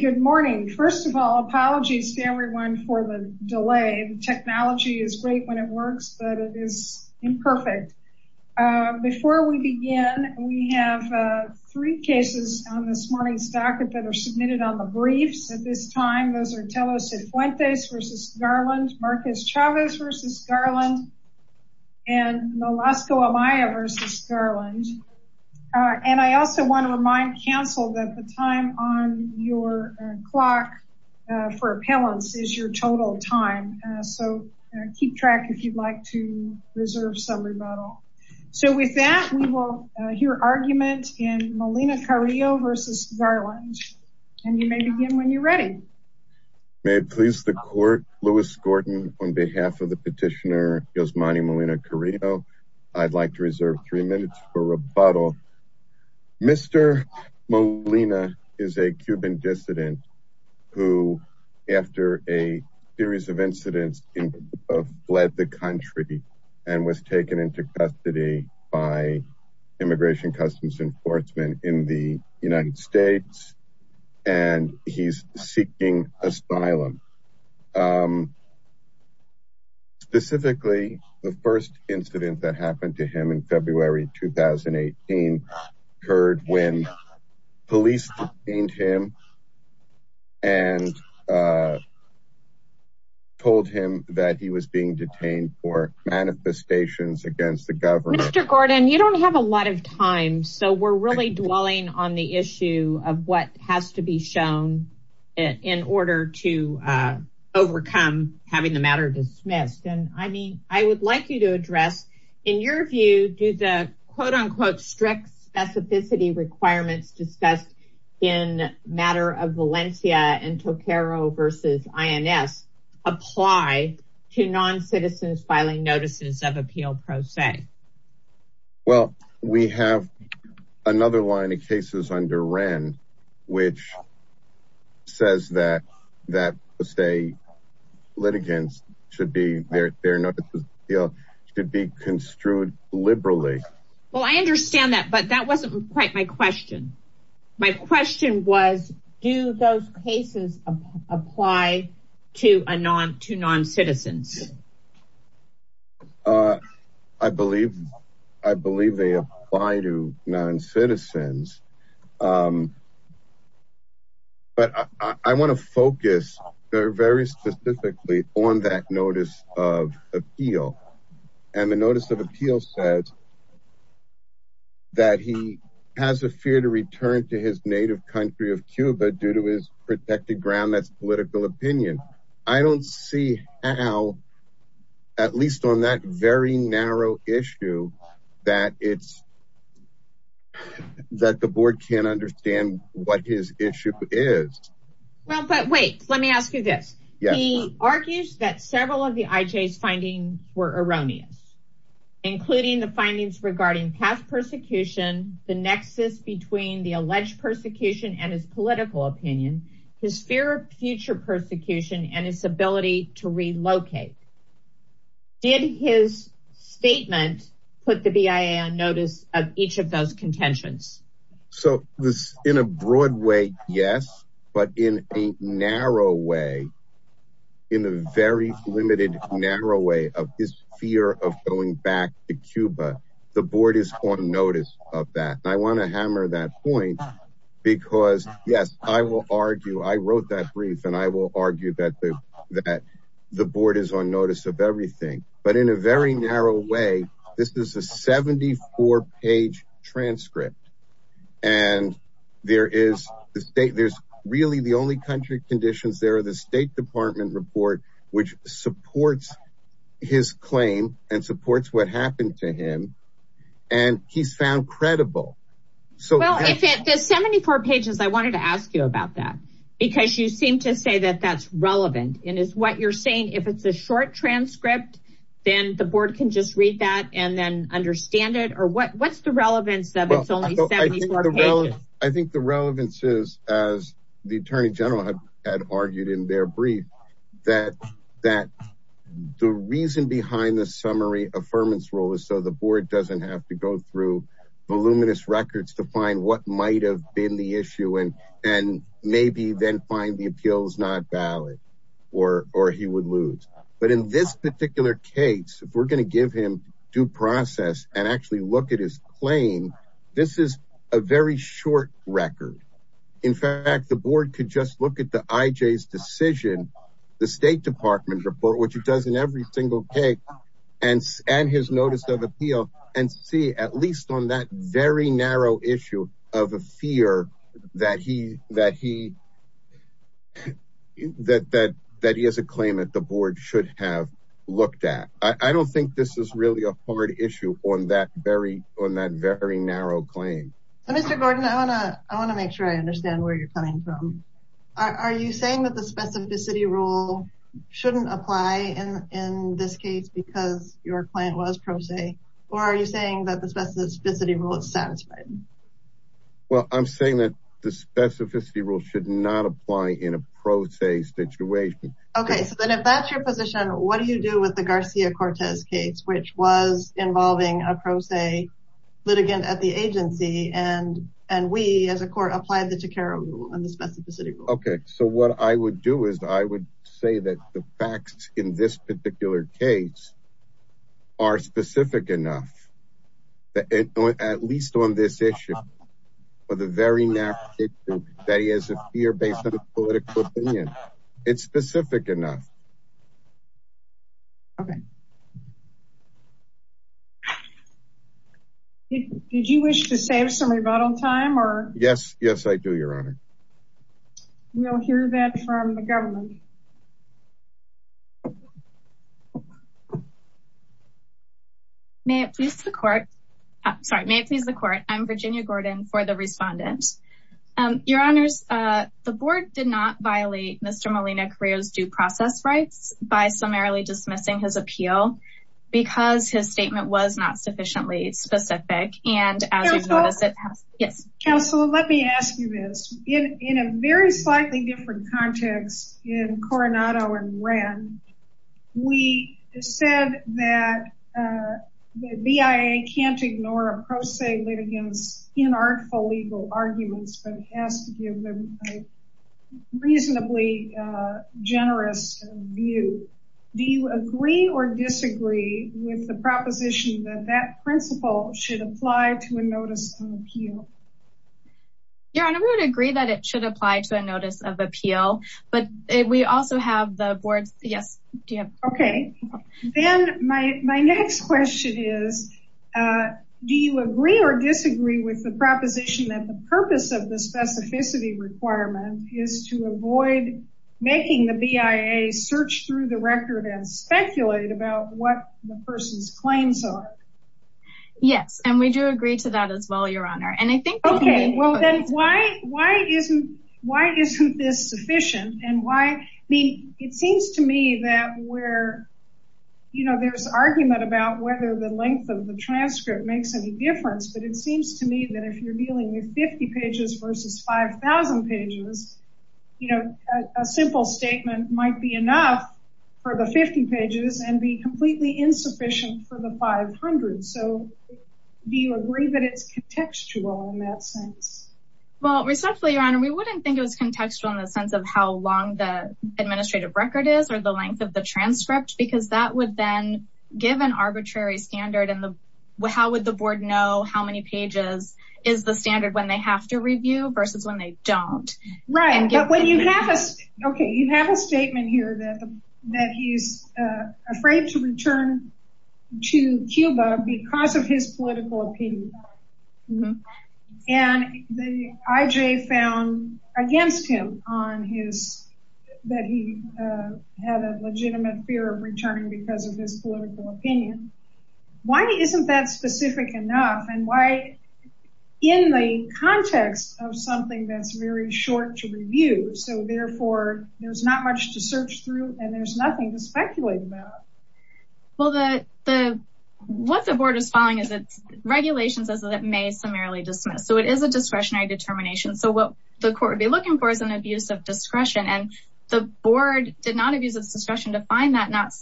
Good morning. First of all, apologies to everyone for the delay. The technology is great when it works, but it is imperfect. Before we begin, we have three cases on this morning's docket that are submitted on the briefs at this time. Those are Tello Cifuentes v. Garland, Marquez Chavez v. Garland, and Nolasco Amaya v. Garland. I also want to remind counsel that the time on your clock for appellants is your total time, so keep track if you'd like to reserve some rebuttal. With that, we will hear argument in Molina-Carillo v. Garland, and you may begin when you're ready. May it please the court, Louis Gordon, on behalf of the petitioner Yosmany Molina-Carillo, I'd like to reserve three minutes for rebuttal. Mr. Molina is a Cuban dissident who, after a series of incidents, fled the country and was taken into custody by Immigration Customs Enforcement in the United States. He's seeking asylum. Specifically, the first incident that happened to him in February 2018 occurred when police detained him and told him that he was being detained for manifestations against the government. Mr. Gordon, you don't have a lot of time, so we're really dwelling on the issue of what has to be shown in order to overcome having the matter dismissed. I would like you to address, in your view, do the quote-unquote strict specificity requirements discussed in the matter of Valencia and Toccaro v. INS apply to non-citizens filing notices of appeal pro se? Well, we have another line of cases under Wren, which says that litigants should be construed liberally. Well, I understand that, but that wasn't quite my question. My question was, do those cases apply to non-citizens? I believe they apply to non-citizens, but I want to focus very specifically on that notice of appeal, and the notice of appeal says that he has a fear to return to his native country of Cuba due to his protected ground, that's political opinion. I don't see how, at least on that very narrow issue, that the board can't understand what his issue is. Well, but wait, let me ask you this. He argues that several of the IJ's findings were erroneous, including the findings regarding past persecution, the nexus between the alleged persecution and his political opinion, his fear of future persecution, and his ability to relocate. Did his statement put the BIA on notice of each of those contentions? So, in a broad way, yes, but in a narrow way, in a very limited narrow way of his fear of going back to Cuba, the board is on notice of that. I want to hammer that point because, yes, I will argue, I wrote that brief, and I will argue that the board is on notice of everything, but in a very narrow way, this is a 74-page transcript. And there's really the only country conditions there are the State Department report, which supports his claim and supports what happened to him, and he's found credible. Well, the 74 pages, I wanted to ask you about that, because you seem to say that that's relevant, and is what you're saying, if it's a short transcript, then the board can just read that and then understand it, or what's the relevance of it's only 74 pages? Well, I think the relevance is, as the Attorney General had argued in their brief, that the reason behind the summary affirmance rule is so the board doesn't have to go through voluminous records to find what might have been the issue and maybe then find the appeals not valid, or he would lose. But in this particular case, if we're going to give him due process and actually look at his claim, this is a very short record. In fact, the board could just look at the IJ's decision, the State Department report, which it does in every single case, and his notice of appeal, and see at least on that very narrow issue of a fear that he has a claim that the board should have looked at. I don't think this is really a hard issue on that very narrow claim. Mr. Gordon, I want to make sure I understand where you're coming from. Are you saying that the specificity rule shouldn't apply in this case because your client was pro se, or are you saying that the specificity rule is satisfied? Well, I'm saying that the specificity rule should not apply in a pro se situation. Okay, so then if that's your position, what do you do with the Garcia-Cortez case, which was involving a pro se litigant at the agency, and we as a court applied the Tequera rule and the specificity rule? Okay, so what I would do is I would say that the facts in this particular case are specific enough, at least on this issue, for the very narrow issue that he has a fear based on a political opinion. It's specific enough. Did you wish to save some rebuttal time? Yes, yes, I do, Your Honor. We'll hear that from the government. May it please the court. I'm Virginia Gordon for the respondent. Your Honors, the board did not violate Mr. Molina-Carrillo's due process rights by summarily dismissing his appeal because his statement was not sufficiently specific. Counselor, let me ask you this. In a very slightly different context in Coronado and Wren, we said that the BIA can't ignore a pro se litigant's inartful legal arguments, but has to give them a reasonably generous view. Do you agree or disagree with the proposition that that principle should apply to a notice of appeal? Your Honor, we would agree that it should apply to a notice of appeal, but we also have the board's, yes. Okay, then my next question is, do you agree or disagree with the proposition that the purpose of the specificity requirement is to avoid making the BIA search through the record and speculate about what the person's claims are? Yes, and we do agree to that as well, Your Honor. Okay, well then why isn't this sufficient and why, I mean, it seems to me that where, you know, there's argument about whether the length of the transcript makes any difference, but it seems to me that if you're dealing with 50 pages versus 5000 pages, you know, a simple statement might be enough for the 50 pages and be completely insufficient for the 500. So do you agree that it's contextual in that sense? Well, respectfully, Your Honor, we wouldn't think it was contextual in the sense of how long the administrative record is or the length of the transcript, because that would then give an arbitrary standard and how would the board know how many pages is the standard when they have to review versus when they don't. Right, but when you have a, okay, you have a statement here that he's afraid to return to Cuba because of his political opinion. And the IJ found against him on his, that he had a legitimate fear of returning because of his political opinion. Why isn't that specific enough and why, in the context of something that's very short to review, so therefore there's not much to search through and there's nothing to speculate about? Well, what the board is following is it's regulations as it may summarily dismiss. So it is a discretionary determination. So what the court would be looking for is an abuse of discretion and the board did not abuse of discretion to find that not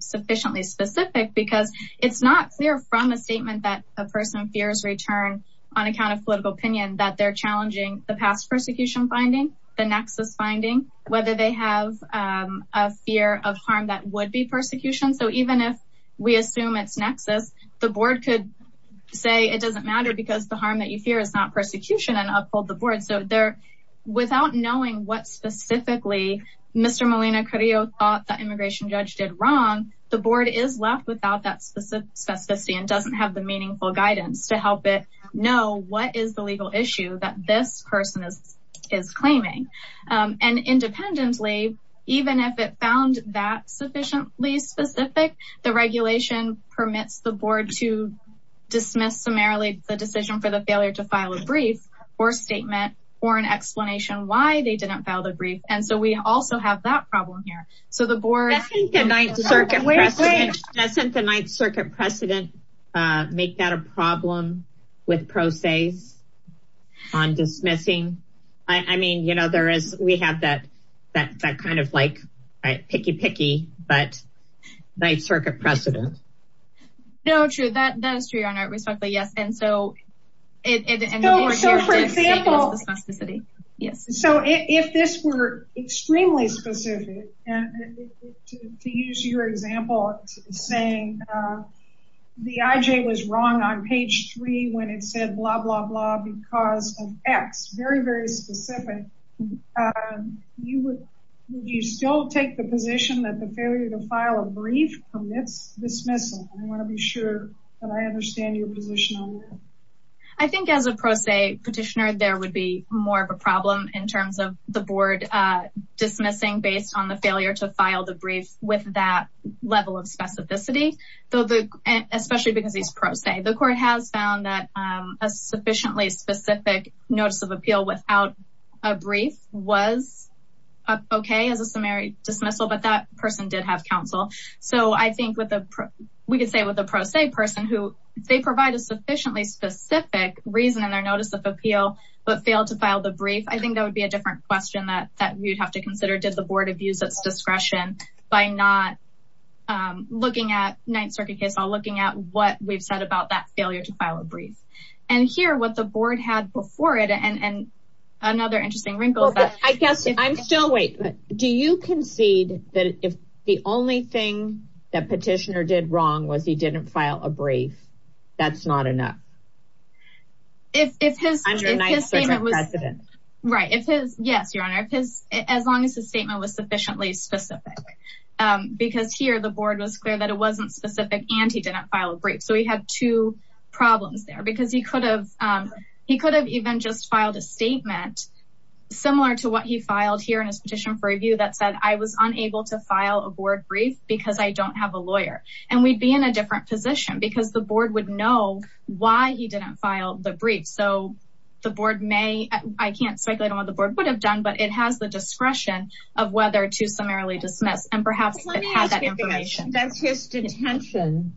sufficiently specific because it's not clear from a statement that a person fears return on account of political opinion that they're challenging the past persecution finding, the nexus finding, whether they have a fear of harm that would be persecuted. So even if we assume it's nexus, the board could say it doesn't matter because the harm that you fear is not persecution and uphold the board. So there, without knowing what specifically Mr. Molina Curio thought the immigration judge did wrong, the board is left without that specific specificity and doesn't have the meaningful guidance to help it know what is the legal issue that this person is, is claiming. And independently, even if it found that sufficiently specific, the regulation permits the board to dismiss summarily the decision for the failure to file a brief or statement or an explanation why they didn't file the brief. And so we also have that problem here. Doesn't the Ninth Circuit precedent make that a problem with pro ses on dismissing? I mean, you know, there is, we have that kind of like, picky picky, but Ninth Circuit precedent. No, true. That is true, Your Honor. Respectfully, yes. And so if this were extremely specific, and to use your example, saying the IJ was wrong on page three, when it said, blah, blah, blah, because of X, very, very specific. Do you still take the position that the failure to file a brief permits dismissal? I want to be sure that I understand your position on that. I think as a pro se petitioner, there would be more of a problem in terms of the board dismissing based on the failure to file the brief with that level of specificity. Especially because he's pro se. The court has found that a sufficiently specific notice of appeal without a brief was okay as a summary dismissal, but that person did have counsel. So I think we could say with a pro se person who they provide a sufficiently specific reason in their notice of appeal, but failed to file the brief. I think that would be a different question that we'd have to consider. Did the board abuse its discretion by not looking at Ninth Circuit case, while looking at what we've said about that failure to file a brief? And here, what the board had before it, and another interesting wrinkle. I guess, I'm still waiting. Do you concede that if the only thing that petitioner did wrong was he didn't file a brief, that's not enough? I'm your Ninth Circuit president. Yes, Your Honor. As long as the statement was sufficiently specific. Because here, the board was clear that it wasn't specific and he didn't file a brief. So he had two problems there because he could have even just filed a statement similar to what he filed here in his petition for review that said, I was unable to file a board brief because I don't have a lawyer. And we'd be in a different position because the board would know why he didn't file the brief. So the board may, I can't speculate on what the board would have done, but it has the discretion of whether to summarily dismiss and perhaps it had that information. Does his detention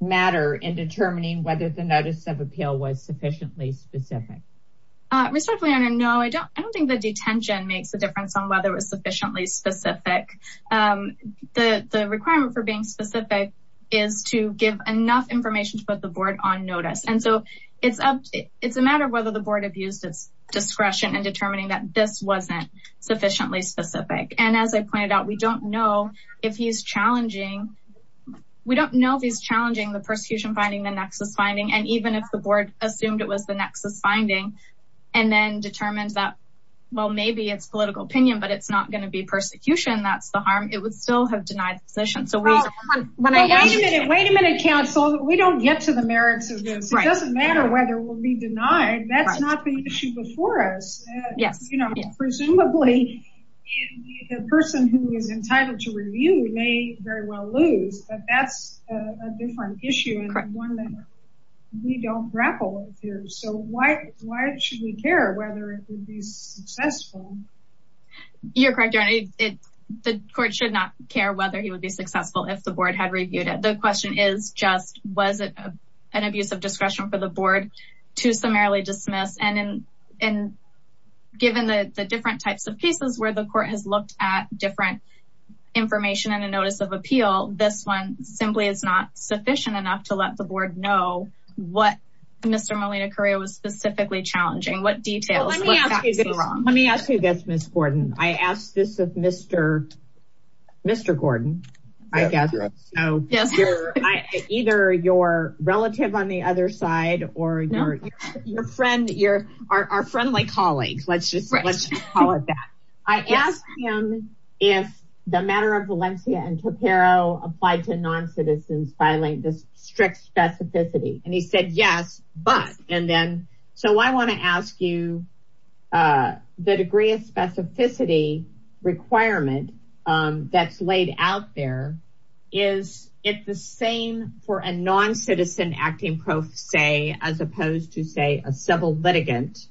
matter in determining whether the notice of appeal was sufficiently specific? No, I don't think the detention makes a difference on whether it was sufficiently specific. The requirement for being specific is to give enough information to put the board on notice. And so it's a matter of whether the board abused its discretion in determining that this wasn't sufficiently specific. And as I pointed out, we don't know if he's challenging, we don't know if he's challenging the persecution finding, the nexus finding, and even if the board assumed it was the nexus finding and then determined that, well, maybe it's political opinion, but it's not going to be persecution. That's the harm. It would still have denied the position. Wait a minute, wait a minute, counsel. We don't get to the merits of this. It doesn't matter whether we'll be denied. That's not the issue before us. Presumably the person who is entitled to review may very well lose, but that's a different issue and one that we don't grapple with here. So why should we care whether it would be successful? You're correct. The court should not care whether he would be successful if the board had reviewed it. The question is just, was it an abuse of discretion for the board to summarily dismiss? And given the different types of cases where the court has looked at different information and a notice of appeal, this one simply is not sufficient enough to let the board know what Mr. Molina-Correa was specifically challenging, what details were factually wrong. Let me ask you this, Ms. Gordon. I asked this of Mr. Gordon, I guess. So either your relative on the other side or your friend, our friendly colleagues, let's just call it that. I asked him if the matter of Valencia and Topero applied to non-citizens filing this strict specificity. And he said, yes, but, and then, so I want to ask you the degree of specificity requirement that's laid out there. Is it the same for a non-citizen acting pro se as opposed to say a civil litigant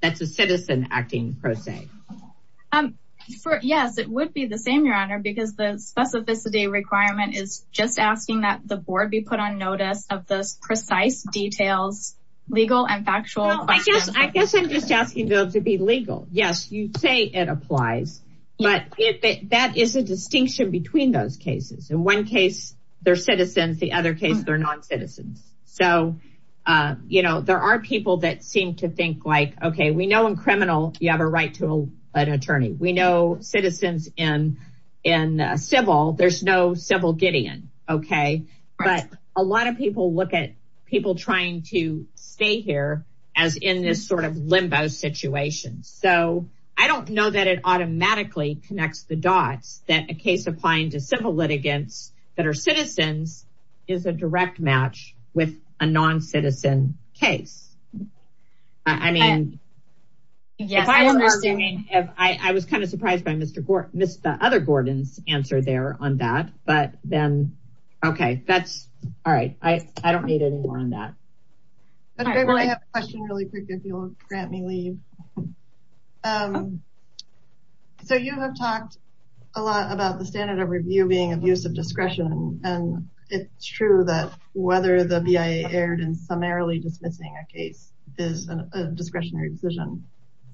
that's a citizen acting pro se? Yes, it would be the same, Your Honor, because the specificity requirement is just asking that the board be put on notice of those precise details, legal and factual questions. I guess I'm just asking them to be legal. Yes, you say it applies, but that is a distinction between those cases. In one case, they're citizens, the other case, they're non-citizens. So, you know, there are people that seem to think like, okay, we know in criminal, you have a right to an attorney. We know citizens in civil, there's no civil Gideon. Okay. But a lot of people look at people trying to stay here as in this sort of limbo situation. So I don't know that it automatically connects the dots that a case applying to civil litigants that are citizens is a direct match with a non-citizen case. I mean, I was kind of surprised by the other Gordon's answer there on that, but then, okay, that's all right. I don't need any more on that. I have a question really quick if you'll grant me leave. So you have talked a lot about the standard of review being of use of discretion. And it's true that whether the BIA erred in summarily dismissing a case is a discretionary decision.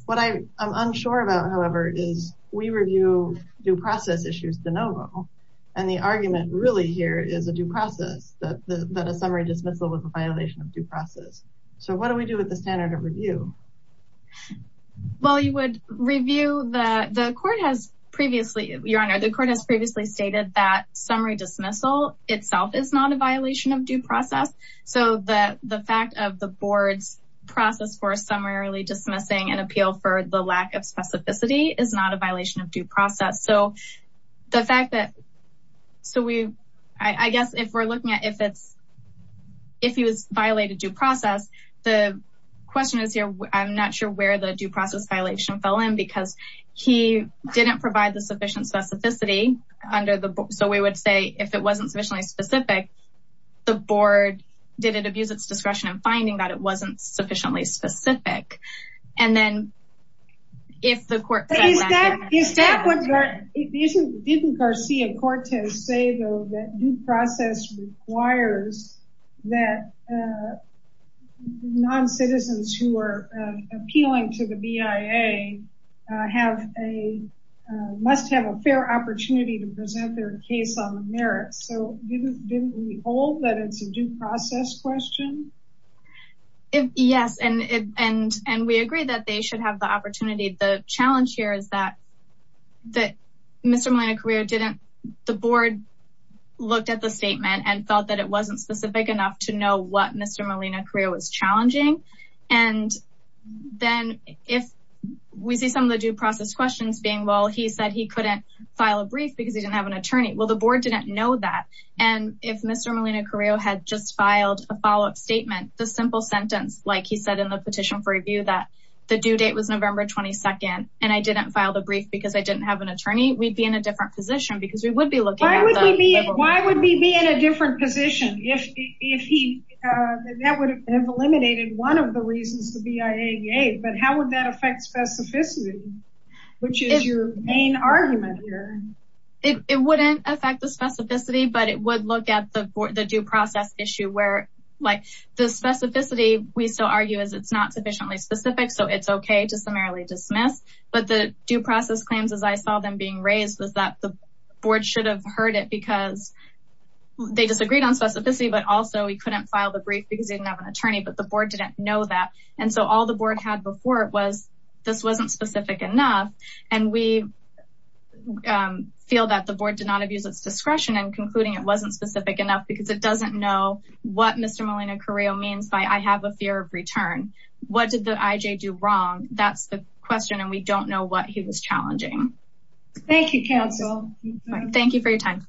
What I'm unsure about, however, is we review due process issues de novo. And the argument really here is a due process that a summary dismissal was a violation of due process. So what do we do with the standard of review? Well, you would review the court has previously your honor. The court has previously stated that summary dismissal itself is not a violation of due process. So the fact of the board's process for summarily dismissing and appeal for the lack of specificity is not a violation of due process. So the fact that, so we, I guess if we're looking at if it's, if he was violated due process, the question is here, I'm not sure where the due process violation fell in because he didn't provide the sufficient specificity under the board. So we would say if it wasn't sufficiently specific, the board did it abuse its discretion and finding that it wasn't sufficiently specific. And then if the court. Didn't Garcia-Cortez say though that due process requires that non-citizens who are appealing to the BIA must have a fair opportunity to present their case on the merits. So didn't we hold that it's a due process question? Yes. And, and, and we agree that they should have the opportunity. The challenge here is that that Mr. Molina-Carrillo didn't, the board looked at the statement and felt that it wasn't specific enough to know what Mr. Molina-Carrillo was challenging. And then if we see some of the due process questions being, well, he said he couldn't file a brief because he didn't have an attorney. Well, the board didn't know that. And if Mr. Molina-Carrillo had just filed a follow-up statement, the simple sentence, like he said in the petition for review, that the due date was November 22nd. And I didn't file the brief because I didn't have an attorney. We'd be in a different position because we would be looking at. Why would we be in a different position if, if he, that would have eliminated one of the reasons the BIA gave, but how would that affect specificity, which is your main argument here? It wouldn't affect the specificity, but it would look at the, the due process issue where like the specificity we still argue is it's not sufficiently specific. So it's okay to summarily dismiss. But the due process claims, as I saw them being raised was that the board should have heard it because they disagreed on specificity, but also we couldn't file the brief because he didn't have an attorney, but the board didn't know that. And so all the board had before it was, this wasn't specific enough. And we feel that the board did not abuse its discretion and concluding it wasn't specific enough because it doesn't know what Mr. Molina-Carrillo means by, I have a fear of return. What did the IJ do wrong? That's the question. And we don't know what he was challenging. Thank you, council. Thank you for your time.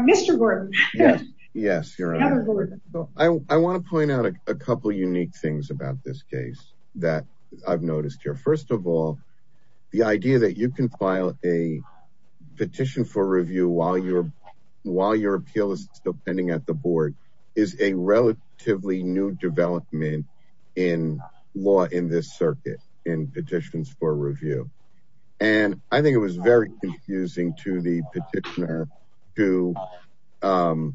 Mr. Gordon. Yes. I want to point out a couple of unique things about this case that I've noticed here. First of all, the idea that you can file a petition for review while you're, while your appeal is still pending at the board is a relatively new development in law in this circuit in petitions for review. And I think it was very confusing to the petitioner to in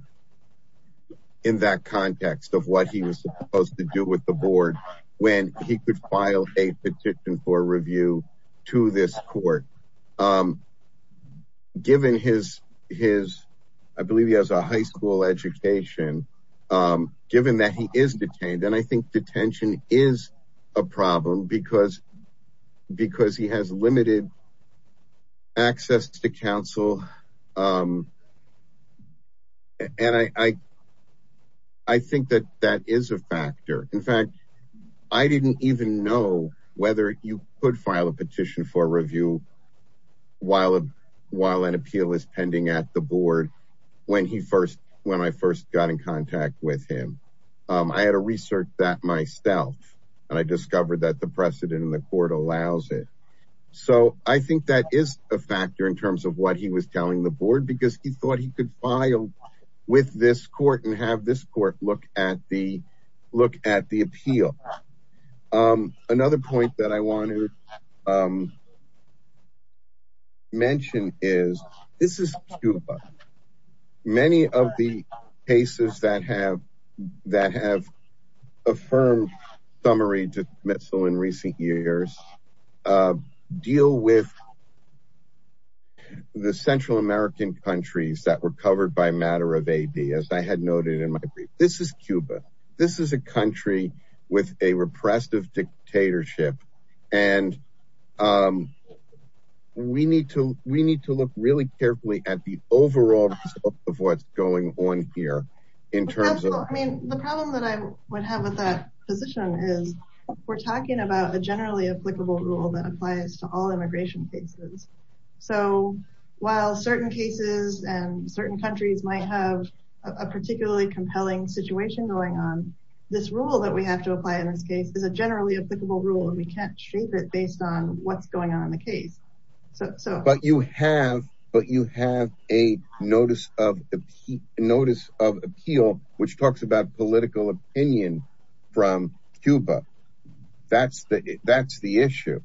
that context of what he was supposed to do with the board when he could file a petition for review to this court. Given his, his, I believe he has a high school education, given that he is detained. And I think detention is a problem because, because he has limited access to counsel. And I, I think that that is a factor. In fact, I didn't even know whether you could file a petition for review while, while an appeal is pending at the board when he first, when I first got in contact with him. I had to research that myself and I discovered that the precedent in the court allows it. So I think that is a factor in terms of what he was telling the board, because he thought he could file with this court and have this court look at the, look at the appeal. Another point that I want to mention is, this is Cuba. Many of the cases that have, that have affirmed summary dismissal in recent years, deal with the Central American countries that were covered by matter of AB, as I had noted in my brief. This is Cuba. This is a country with a repressive dictatorship. And we need to, we need to look really carefully at the overall scope of what's going on here in terms of. Well, I mean, the problem that I would have with that position is we're talking about a generally applicable rule that applies to all immigration cases. So while certain cases and certain countries might have a particularly compelling situation going on, this rule that we have to apply in this case is a generally applicable rule and we can't shape it based on what's going on in the case. But you have, but you have a notice of notice of appeal, which talks about political opinion from Cuba. That's the, that's the issue.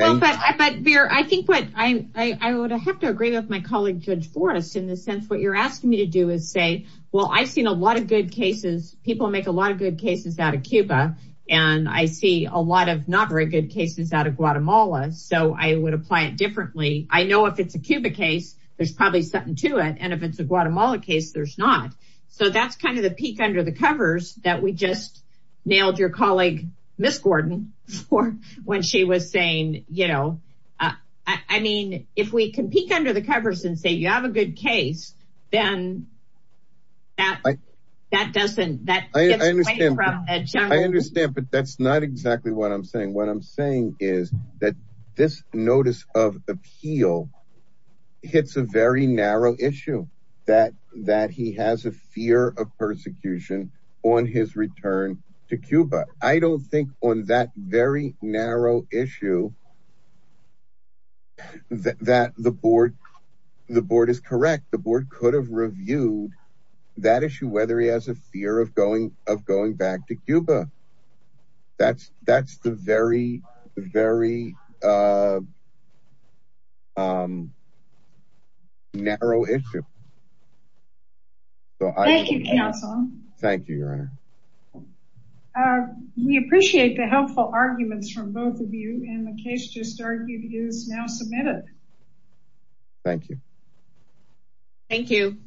I think what I would have to agree with my colleague, Judge Forrest, in the sense, what you're asking me to do is say, well, I've seen a lot of good cases. People make a lot of good cases out of Cuba. And I see a lot of not very good cases out of Guatemala. So I would apply it differently. I know if it's a Cuba case, there's probably something to it. And if it's a Guatemala case, there's not. So that's kind of the peek under the covers that we just nailed your colleague, Ms. Gordon, for when she was saying, you know, I mean, if we can peek under the covers and say, you have a good case, then that doesn't, that gets away from the general. I understand, but that's not exactly what I'm saying. What I'm saying is that this notice of appeal hits a very narrow issue that, that he has a fear of persecution on his return to Cuba. I don't think on that very narrow issue that the board, the board is correct. The board could have reviewed that issue, whether he has a fear of going, of going back to Cuba. That's, that's the very, very narrow issue. Thank you, counsel. Thank you, Your Honor. We appreciate the helpful arguments from both of you. And the case just argued is now submitted. Thank you. Thank you.